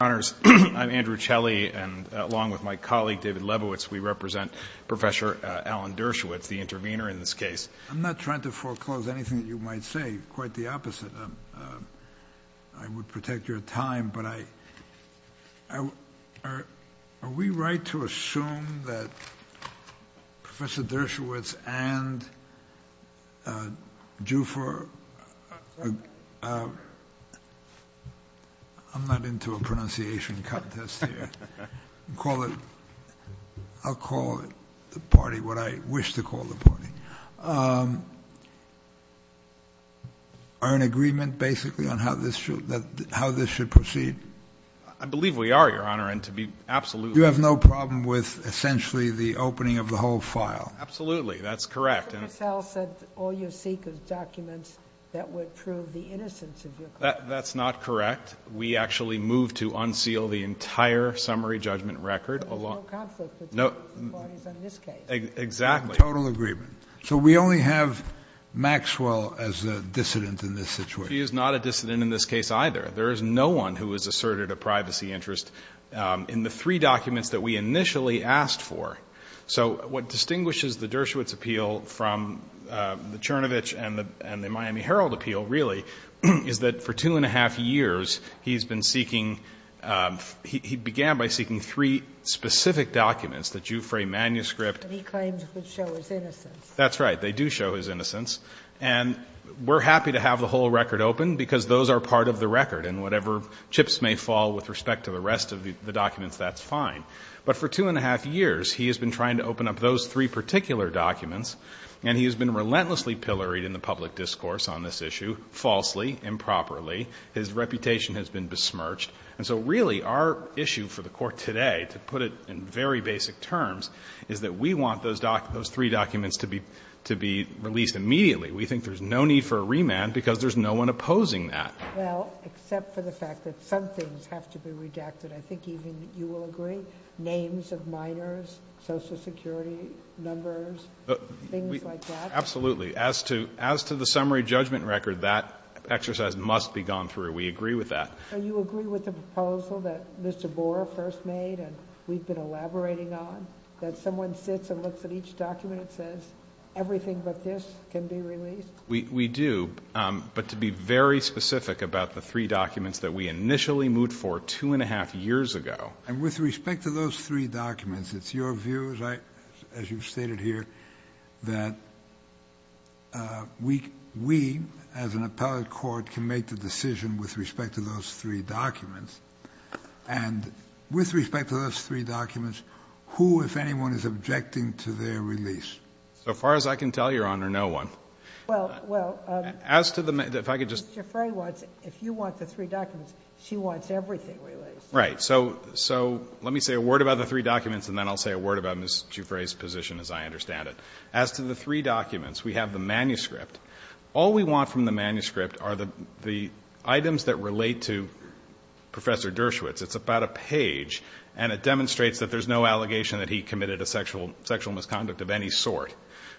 And along with my colleague, David Lebowitz, we represent Professor Alan Dershowitz, the intervener in this case. I'm not trying to foreclose anything that you might say, quite the opposite. I would protect your time, but are we right to assume that Professor Dershowitz and Giuffre are in agreement, basically, on how this should proceed? I believe we are, Your Honor. You have no problem with, essentially, the opening of the whole file? Absolutely. That's correct. Mr. Cassell said all you seek is documents that would prove the innocence of your client. That's not correct. We actually moved to unseal the entire summary judgment record. And there's no conflict between the parties in this case? Exactly. Total agreement. So we only have Maxwell as a dissident in this situation? She is not a dissident in this case, either. There is no one who has asserted a privacy interest in the three documents that we initially asked for. So what distinguishes the Dershowitz appeal from the Chernovich and the Miami Herald appeal, really, is that for two and a half years, he's been seeking, he began by seeking three specific documents, the Giuffre manuscript. And he claims it would show his innocence. That's right. They do show his innocence. And we're happy to have the whole record open because those are part of the record. And whatever chips may fall with respect to the rest of the documents, that's fine. But for two and a half years, he has been trying to open up those three particular documents, and he has been relentlessly pilloried in the public discourse on this issue, falsely, improperly. His reputation has been besmirched. And so, really, our issue for the Court today, to put it in very basic terms, is that we want those documents, those three documents to be released immediately. We think there's no need for a remand because there's no one opposing that. Well, except for the fact that some things have to be redacted. I think even you will agree. Names of minors, Social Security numbers, things like that. Absolutely. As to the summary judgment record, that exercise must be gone through. We agree with that. And you agree with the proposal that Mr. Boer first made and we've been elaborating on, that someone sits and looks at each document and says, everything but this can be released? We do. But to be very specific about the three documents that we initially moved for two and a half years ago. And with respect to those three documents, it's your view, as you've stated here, that we, as an appellate court, can make the decision with respect to those three documents. And with respect to those three documents, who, if anyone, is objecting to their release? So far as I can tell, Your Honor, no one. Well, Mr. Giffray wants, if you want the three documents, she wants everything released. Right. So let me say a word about the three documents and then I'll say a word about Ms. Giffray's position as I understand it. As to the three documents, we have the manuscript. All we want from the manuscript are the items that relate to Professor Dershowitz. It's about a page and it demonstrates that there's no allegation that he committed a sexual misconduct of any sort.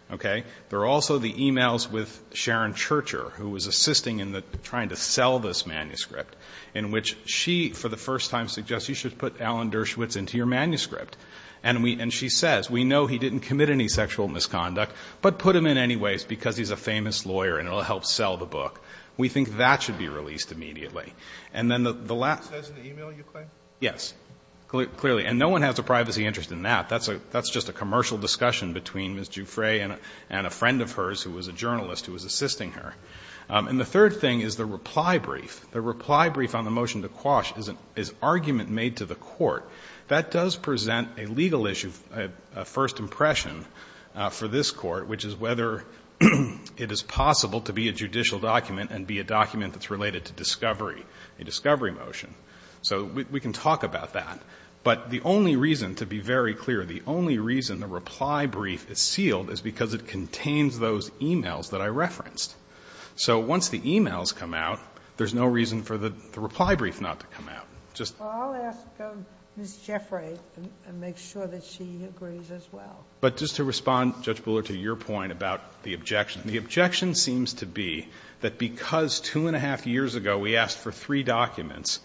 Okay? There are also the e-mails with Sharon Churcher, who was assisting in trying to sell this manuscript, in which she, for the first time, suggests you should put Alan Dershowitz into your manuscript. And she says, we know he didn't commit any sexual misconduct, but put him in anyways because he's a famous lawyer and it'll help sell the book. We think that should be released immediately. And then the last... It says in the e-mail, you claim? Yes. Clearly. And no one has a privacy interest in that. That's just a commercial discussion between Ms. Giffray and a friend of hers who was a journalist who was assisting her. And the third thing is the reply brief. The reply brief on the motion to quash is argument made to the court. That does present a legal issue, a first impression for this court, which is whether it is possible to be a judicial document and be a document that's related to discovery, a discovery motion. So we can talk about that. But the only reason, to be very clear, the only reason the reply brief is sealed is because it contains those e-mails that I referenced. So once the e-mails come out, there's no reason for the reply brief not to come out. Just... Well, I'll ask Ms. Giffray and make sure that she agrees as well. But just to respond, Judge Bullard, to your point about the objection. The objection seems to be that because two and a half years ago we asked for three documents,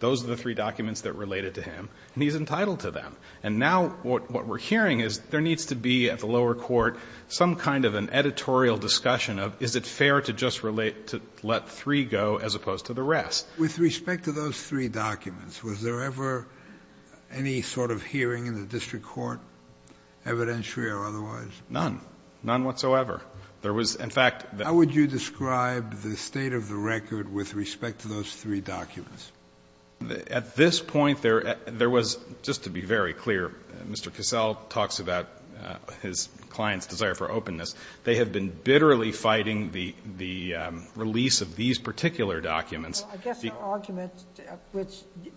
those are the three documents that related to him, and he's entitled to them. And now what we're hearing is there needs to be at the lower court some kind of an editorial discussion of is it fair to just relate, to let three go as opposed to the rest. to just let three go as opposed to the rest. Was there ever any sort of hearing in the district court, evidentiary or otherwise? None. None whatsoever. There was, in fact... How would you describe the state of the record with respect to those three documents? At this point, there was, just to be very clear, Mr. Cassell talks about his client's desire for openness. They have been bitterly fighting the release of these particular documents. I guess the argument which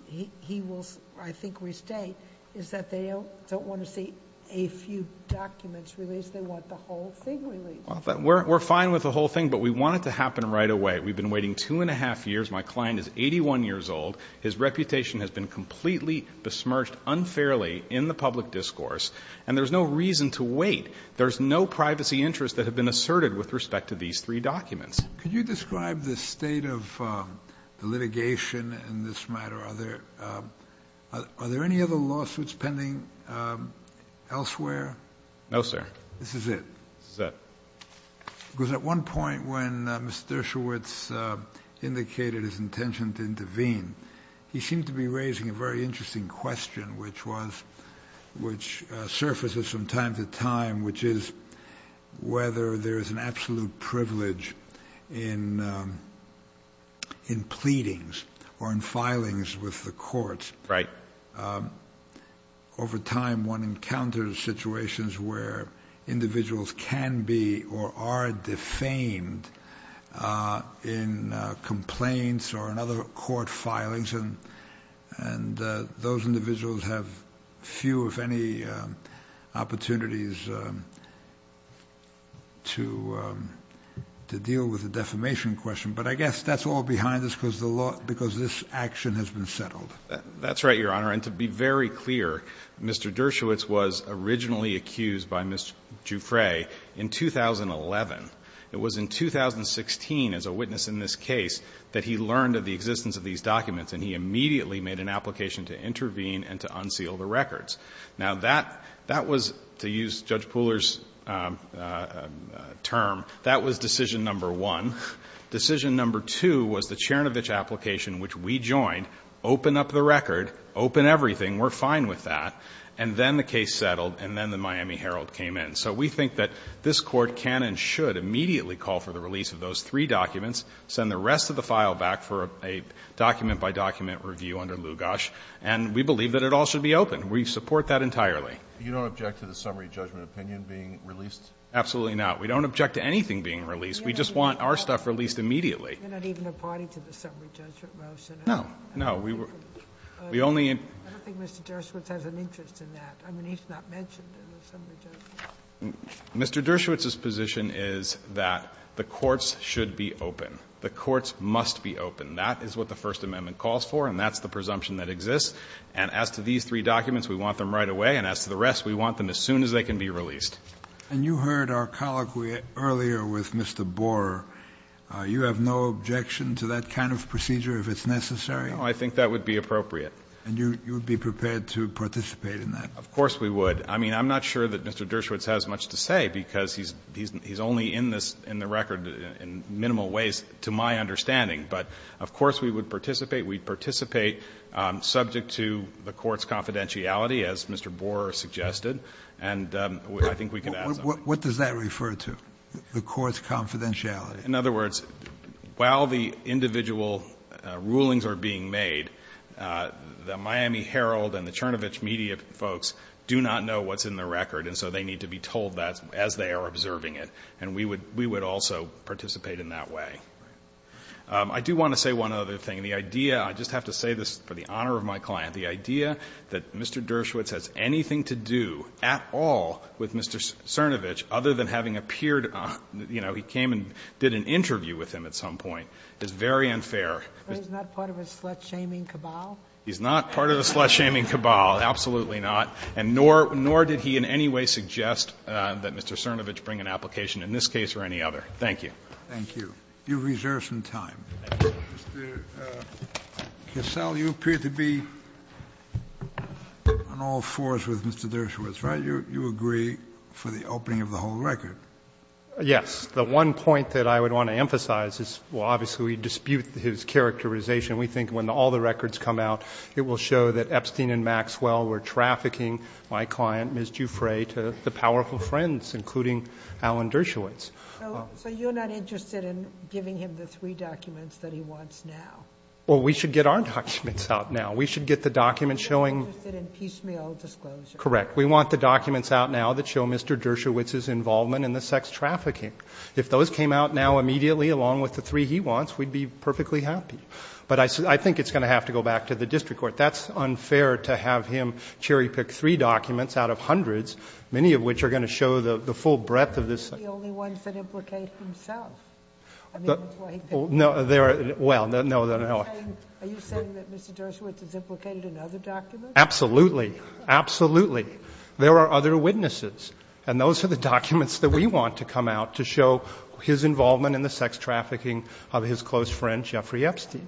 he will, I think, restate is that they don't want to see a few documents released. They want the whole thing released. We're fine with the whole thing, but we want it to happen right away. We've been waiting two and a half years. My client is 81 years old. His reputation has been completely besmirched unfairly in the public discourse, and there's no reason to wait. There's no privacy interests that have been asserted with respect to these three documents. Could you describe the state of the litigation in this matter? Are there any other lawsuits pending elsewhere? No, sir. This is it? This is it. Because at one point when Mr. Schultz indicated his intention to intervene, he seemed to be raising a very interesting question, which surfaces from time to time, which is whether there is an absolute privilege in pleadings or in filings with the courts. Right. Over time, one encounters situations where individuals can be or are defamed in complaints or in other court filings, and those individuals have few, if any, opportunities to deal with the defamation question. But I guess that's all behind us because this action has been settled. That's right, Your Honor. And to be very clear, Mr. Dershowitz was originally accused by Mr. Jouffre in 2011. It was in 2016, as a witness in this case, that he learned of the existence of these documents, and he immediately made an application to intervene and to unseal the records. Now, that was, to use Judge Pooler's term, that was decision number one. Decision number two was the Chernovich application, which we joined. Open up the record. Open everything. We're fine with that. And then the case settled, and then the Miami Herald came in. So we think that this Court can and should immediately call for the release of those three documents, send the rest of the file back for a document-by-document review under Lugosch, and we believe that it all should be open. We support that entirely. You don't object to the summary judgment opinion being released? Absolutely not. We don't object to anything being released. We just want our stuff released immediately. You're not even a party to the summary judgment motion, are you? No. No. I don't think Mr. Dershowitz has an interest in that. I mean, he's not mentioned in the summary judgment. Mr. Dershowitz's position is that the courts should be open. The courts must be open. That is what the First Amendment calls for, and that's the presumption that exists. And as to these three documents, we want them right away. And as to the rest, we want them as soon as they can be released. And you heard our colloquy earlier with Mr. Borer. You have no objection to that kind of procedure if it's necessary? No. I think that would be appropriate. And you would be prepared to participate in that? Of course we would. I mean, I'm not sure that Mr. Dershowitz has much to say because he's only in the record in minimal ways, to my understanding. But, of course, we would participate. We'd participate subject to the court's confidentiality, as Mr. Borer suggested. And I think we can ask him. What does that refer to, the court's confidentiality? In other words, while the individual rulings are being made, the Miami Herald and the Cernovich media folks do not know what's in the record, and so they need to be told that as they are observing it. And we would also participate in that way. I do want to say one other thing. The idea, I just have to say this for the honor of my client, the idea that Mr. Dershowitz has anything to do at all with Mr. Cernovich, other than having appeared on, you know, he came and did an interview with him at some point, is very unfair. But he's not part of a slut-shaming cabal? He's not part of a slut-shaming cabal. Absolutely not. And nor did he in any way suggest that Mr. Cernovich bring an application in this case or any other. Thank you. Thank you. You've reserved some time. Mr. Kessel, you appear to be on all fours with Mr. Dershowitz, right? You agree for the opening of the whole record. Yes. The one point that I would want to emphasize is, well, obviously we dispute his characterization. We think when all the records come out, it will show that Epstein and Maxwell were trafficking my client, Ms. Dufresne, to the powerful friends, including Alan Dershowitz. So you're not interested in giving him the three documents that he wants now? Well, we should get our documents out now. We should get the documents showing we want the documents out now that show Mr. Dershowitz's involvement in the sex trafficking. If those came out now immediately along with the three he wants, we'd be perfectly happy. But I think it's going to have to go back to the district court. That's unfair to have him cherry-pick three documents out of hundreds, many of which are going to show the full breadth of this. They're the only ones that implicate himself. I mean, that's why he picked them. Well, no. Are you saying that Mr. Dershowitz is implicated in other documents? Absolutely. Absolutely. There are other witnesses. And those are the documents that we want to come out to show his involvement in the sex trafficking of his close friend, Jeffrey Epstein.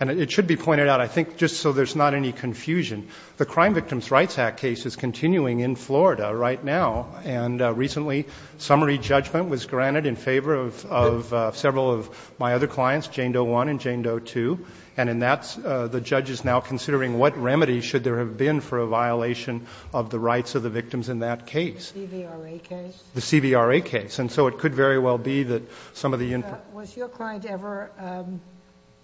And it should be pointed out, I think, just so there's not any confusion, the Crime Victims' Rights Act case is continuing in Florida right now. And recently, summary judgment was granted in favor of several of my other clients, Jane Doe 1 and Jane Doe 2. And in that, the judge is now considering what remedy should there have been for a violation of the rights of the victims in that case. The CVRA case? The CVRA case. And so it could very well be that some of the input. Was your client ever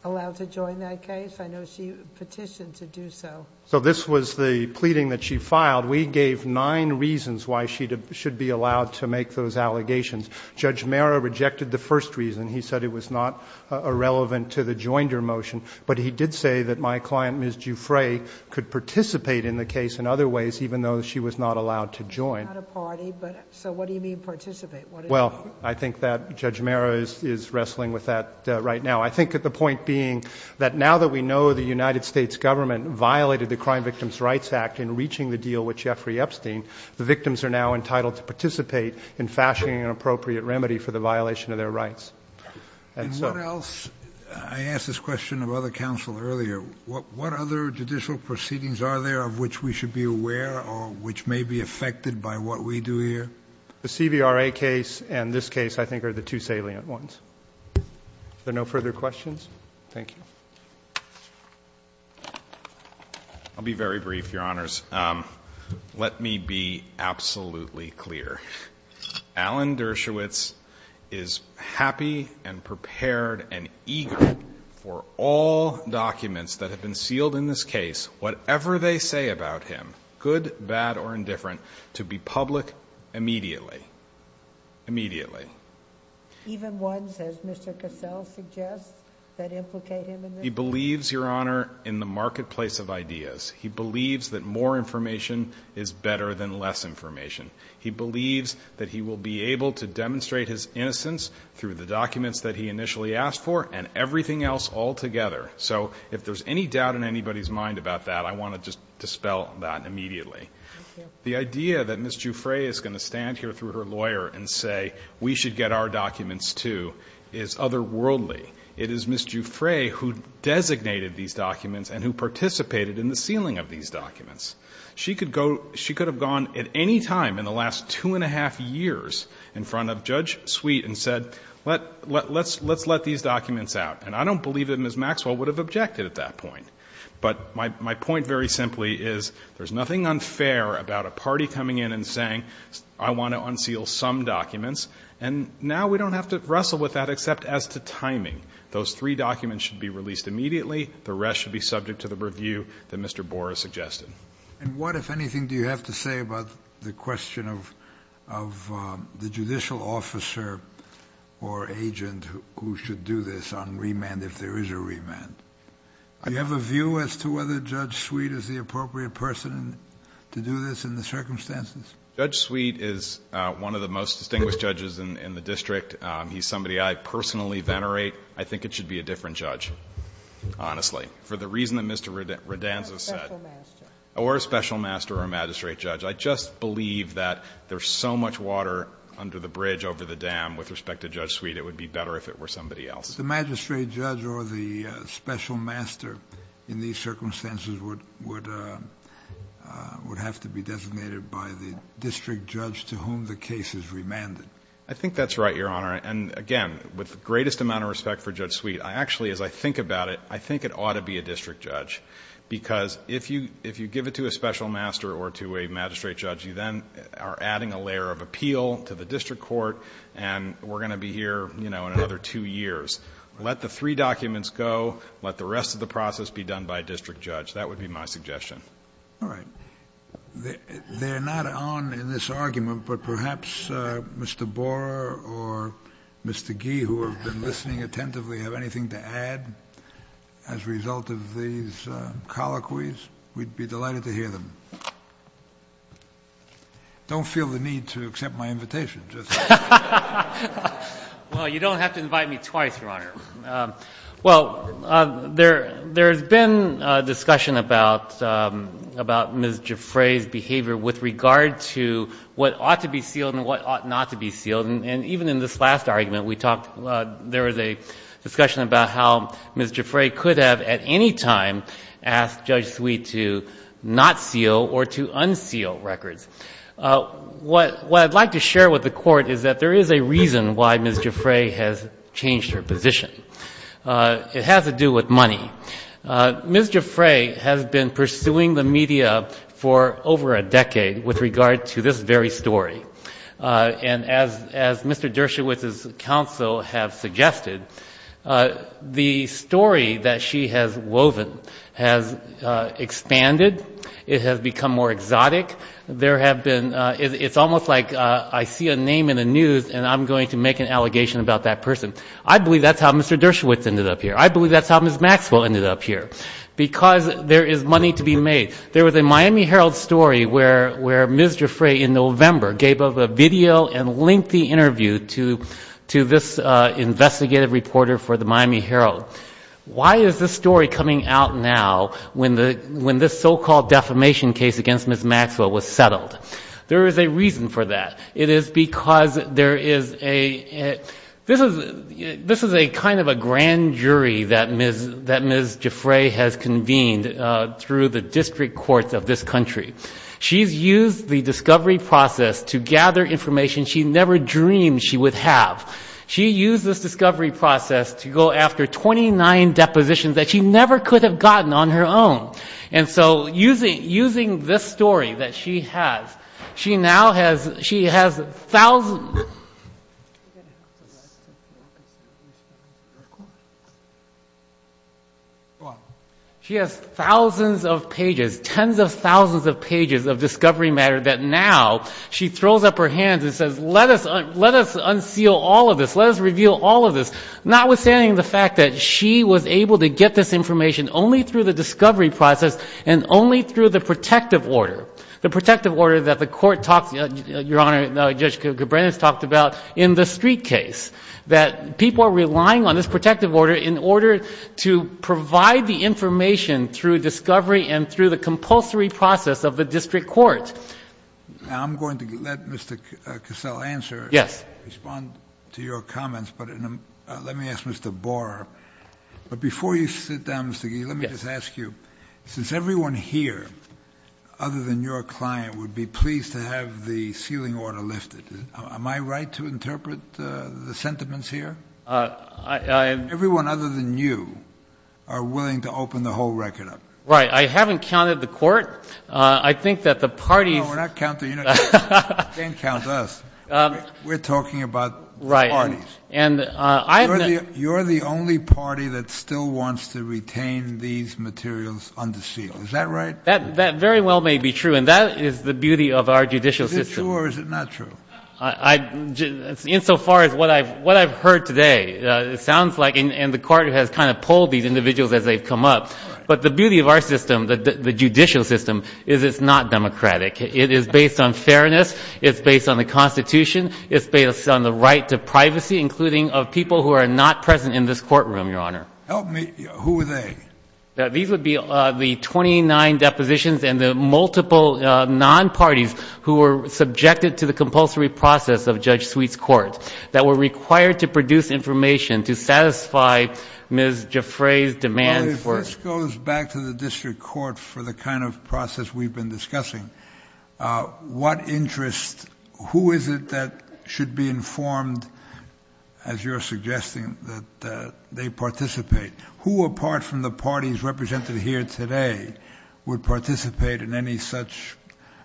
allowed to join that case? I know she petitioned to do so. So this was the pleading that she filed. We gave nine reasons why she should be allowed to make those allegations. Judge Mara rejected the first reason. He said it was not irrelevant to the joinder motion. But he did say that my client, Ms. Giuffre, could participate in the case in other ways, even though she was not allowed to join. Not a party, but so what do you mean participate? Well, I think that Judge Mara is wrestling with that right now. I think that the point being that now that we know the United States government violated the Crime Victims' Rights Act in reaching the deal with Jeffrey Epstein, the victims are now entitled to participate in fashioning an appropriate remedy for the violation of their rights. And what else? I asked this question of other counsel earlier. What other judicial proceedings are there of which we should be aware or which may be affected by what we do here? The CVRA case and this case, I think, are the two salient ones. Are there no further questions? Thank you. I'll be very brief, Your Honors. Let me be absolutely clear. Alan Dershowitz is happy and prepared and eager for all documents that have been sealed in this case, whatever they say about him, good, bad, or indifferent, to be public immediately. Immediately. Even ones, as Mr. Cassell suggests, that implicate him in this? He believes, Your Honor, in the marketplace of ideas. He believes that more information is better than less information. He believes that he will be able to demonstrate his innocence through the documents that he initially asked for and everything else altogether. So if there's any doubt in anybody's mind about that, I want to just dispel that immediately. Thank you. The idea that Ms. Giuffre is going to stand here through her lawyer and say, we should get our documents, too, is otherworldly. It is Ms. Giuffre who designated these documents and who participated in the sealing of these documents. She could have gone at any time in the last two and a half years in front of Judge Sweet and said, let's let these documents out. And I don't believe that Ms. Maxwell would have objected at that point. But my point very simply is, there's nothing unfair about a party coming in and saying, I want to unseal some documents, and now we don't have to wrestle with that except as to timing. Those three documents should be released immediately. The rest should be subject to the review that Mr. Boras suggested. And what, if anything, do you have to say about the question of the judicial officer or agent who should do this on remand if there is a remand? Do you have a view as to whether Judge Sweet is the appropriate person to do this in the circumstances? Judge Sweet is one of the most distinguished judges in the district. He's somebody I personally venerate. I think it should be a different judge, honestly, for the reason that Mr. Radanzo said. Or a special master. Or a special master or a magistrate judge. I just believe that there's so much water under the bridge over the dam with respect to Judge Sweet, it would be better if it were somebody else. But the magistrate judge or the special master in these circumstances would have to be designated by the district judge to whom the case is remanded. I think that's right, Your Honor. And again, with the greatest amount of respect for Judge Sweet, I actually, as I think about it, I think it ought to be a district judge. Because if you give it to a special master or to a magistrate judge, you then are adding a layer of appeal to the district court, and we're going to be here, you know, another two years. Let the three documents go. Let the rest of the process be done by a district judge. That would be my suggestion. All right. They're not on in this argument, but perhaps Mr. Borer or Mr. Gee, who have been listening attentively, have anything to add as a result of these colloquies. We'd be delighted to hear them. Don't feel the need to accept my invitation. Well, you don't have to invite me twice, Your Honor. Well, there has been discussion about Ms. Giffray's behavior with regard to what ought to be sealed and what ought not to be sealed. And even in this last argument we talked, there was a discussion about how Ms. Giffray could have at any time asked Judge Sweet to not seal or to unseal records. What I'd like to share with the Court is that there is a reason why Ms. Giffray has changed her position. It has to do with money. Ms. Giffray has been pursuing the media for over a decade with regard to this very story. And as Mr. Dershowitz's counsel have suggested, the story that she has woven has expanded. It has become more exotic. It's almost like I see a name in the news and I'm going to make an allegation about that person. I believe that's how Mr. Dershowitz ended up here. I believe that's how Ms. Maxwell ended up here, because there is money to be made. There was a Miami Herald story where Ms. Giffray in November gave a video and linked the interview to this investigative reporter for the Miami Herald. Why is this story coming out now when this so-called defamation case against Ms. Maxwell was settled? There is a reason for that. It is because there is a, this is a kind of a grand jury that Ms. Giffray has convened through the district courts of this country. She's used the discovery process to gather information she never dreamed she would have. She used this discovery process to go after 29 depositions that she never could have gotten on her own. And so using this story that she has, she now has, she has thousands, she has thousands of pages, tens of thousands of pages of discovery matter that now she throws up her hands and says let us unseal all of this, let us reveal all of this. Notwithstanding the fact that she was able to get this information only through the discovery process and only through the protective order. The protective order that the court talks, Your Honor, Judge Cabreras talked about in the street case. That people are relying on this protective order in order to provide the information through discovery and through the compulsory process of the district court. Now I'm going to let Mr. Cassell answer. Yes. Respond to your comments, but let me ask Mr. Borer. But before you sit down, Mr. Gee, let me just ask you, since everyone here other than your client would be pleased to have the sealing order lifted, am I right to interpret the sentiments here? Everyone other than you are willing to open the whole record up. Right. I haven't counted the court. I think that the parties. No, we're not counting you. You can't count us. We're talking about the parties. Right. You're the only party that still wants to retain these materials unsealed. Is that right? That very well may be true, and that is the beauty of our judicial system. Is it true or is it not true? Insofar as what I've heard today, it sounds like, and the court has kind of pulled these individuals as they've come up. But the beauty of our system, the judicial system, is it's not democratic. It is based on fairness. It's based on the Constitution. It's based on the right to privacy, including of people who are not present in this courtroom, Your Honor. Help me. Who are they? These would be the 29 depositions and the multiple non-parties who were subjected to the compulsory process of Judge Sweet's court, that were required to produce information to satisfy Ms. Jaffray's demands for it. Well, this goes back to the district court for the kind of process we've been discussing. What interest, who is it that should be informed, as you're suggesting, that they participate? Who apart from the parties represented here today would participate in any such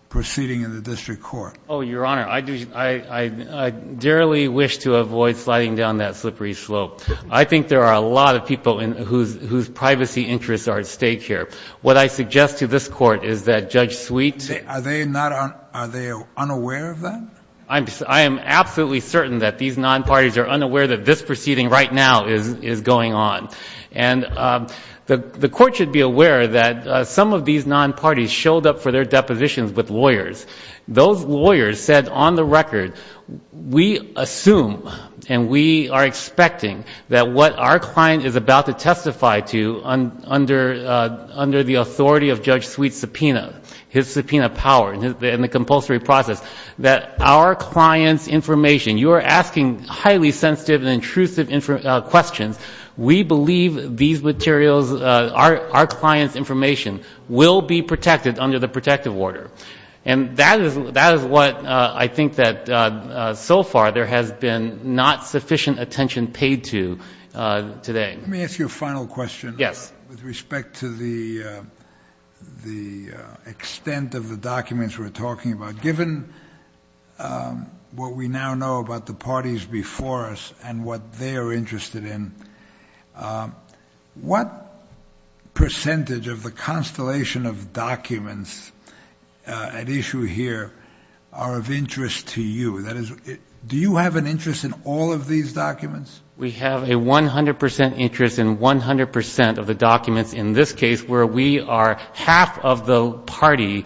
proceeding in the district court? Oh, Your Honor. I do, I dearly wish to avoid sliding down that slippery slope. I think there are a lot of people whose privacy interests are at stake here. What I suggest to this court is that Judge Sweet. Are they not, are they unaware of that? I am absolutely certain that these non-parties are unaware that this proceeding right now is going on. And the court should be aware that some of these non-parties showed up for their depositions with lawyers. Those lawyers said on the record, we assume, and we are expecting, that what our client is about to testify to under the authority of Judge Sweet's subpoena, his subpoena power in the compulsory process, that our client's information, you are asking highly sensitive and intrusive questions. We believe these materials, our client's information, will be protected under the protective order. And that is what I think that so far there has been not sufficient attention paid to today. Let me ask you a final question. Yes. With respect to the extent of the documents we're talking about, given what we now know about the parties before us and what they're interested in, what percentage of the constellation of documents at issue here are of interest to you? That is, do you have an interest in all of these documents? We have a 100 percent interest in 100 percent of the documents in this case where we are half of the parties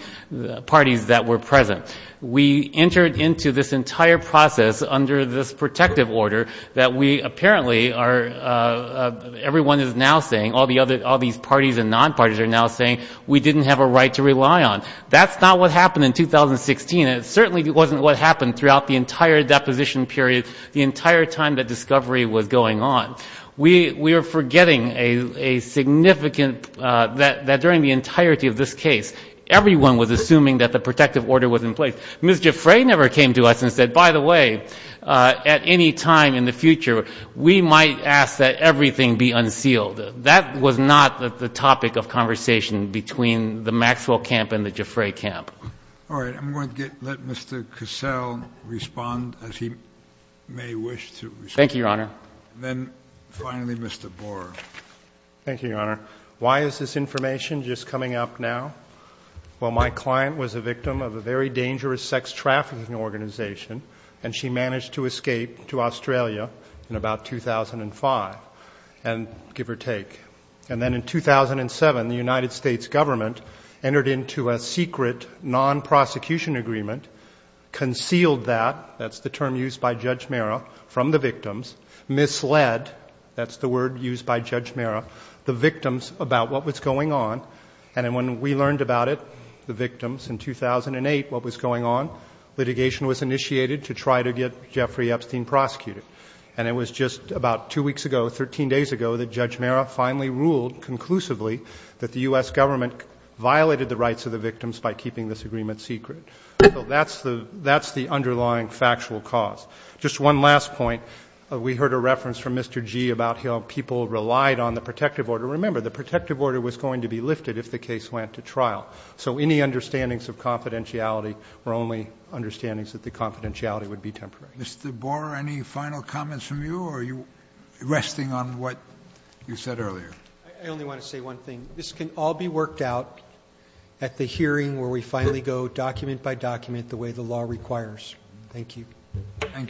that were present. We entered into this entire process under this protective order that we apparently are, everyone is now saying, all these parties and non-parties are now saying we didn't have a right to rely on. That's not what happened in 2016. It certainly wasn't what happened throughout the entire deposition period, the entire time that discovery was going on. We are forgetting a significant, that during the entirety of this case, everyone was assuming that the protective order was in place. Ms. Giffray never came to us and said, by the way, at any time in the future, we might ask that everything be unsealed. That was not the topic of conversation between the Maxwell camp and the Giffray camp. All right. I'm going to let Mr. Cassell respond as he may wish to respond. Thank you, Your Honor. And then finally, Mr. Borer. Thank you, Your Honor. Why is this information just coming up now? Well, my client was a victim of a very dangerous sex trafficking organization, and she managed to escape to Australia in about 2005, give or take. And then in 2007, the United States government entered into a secret non-prosecution agreement, concealed that, that's the term used by Judge Mara, from the victims, misled, that's the word used by Judge Mara, the victims about what was going on. And when we learned about it, the victims, in 2008, what was going on, litigation was initiated to try to get Jeffrey Epstein prosecuted. And it was just about two weeks ago, 13 days ago, that Judge Mara finally ruled conclusively that the U.S. government violated the rights of the victims by keeping this agreement secret. So that's the underlying factual cause. Just one last point. We heard a reference from Mr. Gee about how people relied on the protective order. Remember, the protective order was going to be lifted if the case went to trial. So any understandings of confidentiality were only understandings that the confidentiality would be temporary. Mr. Borer, any final comments from you, or are you resting on what you said earlier? I only want to say one thing. This can all be worked out at the hearing where we finally go document by document the way the law requires. Thank you. Thank you.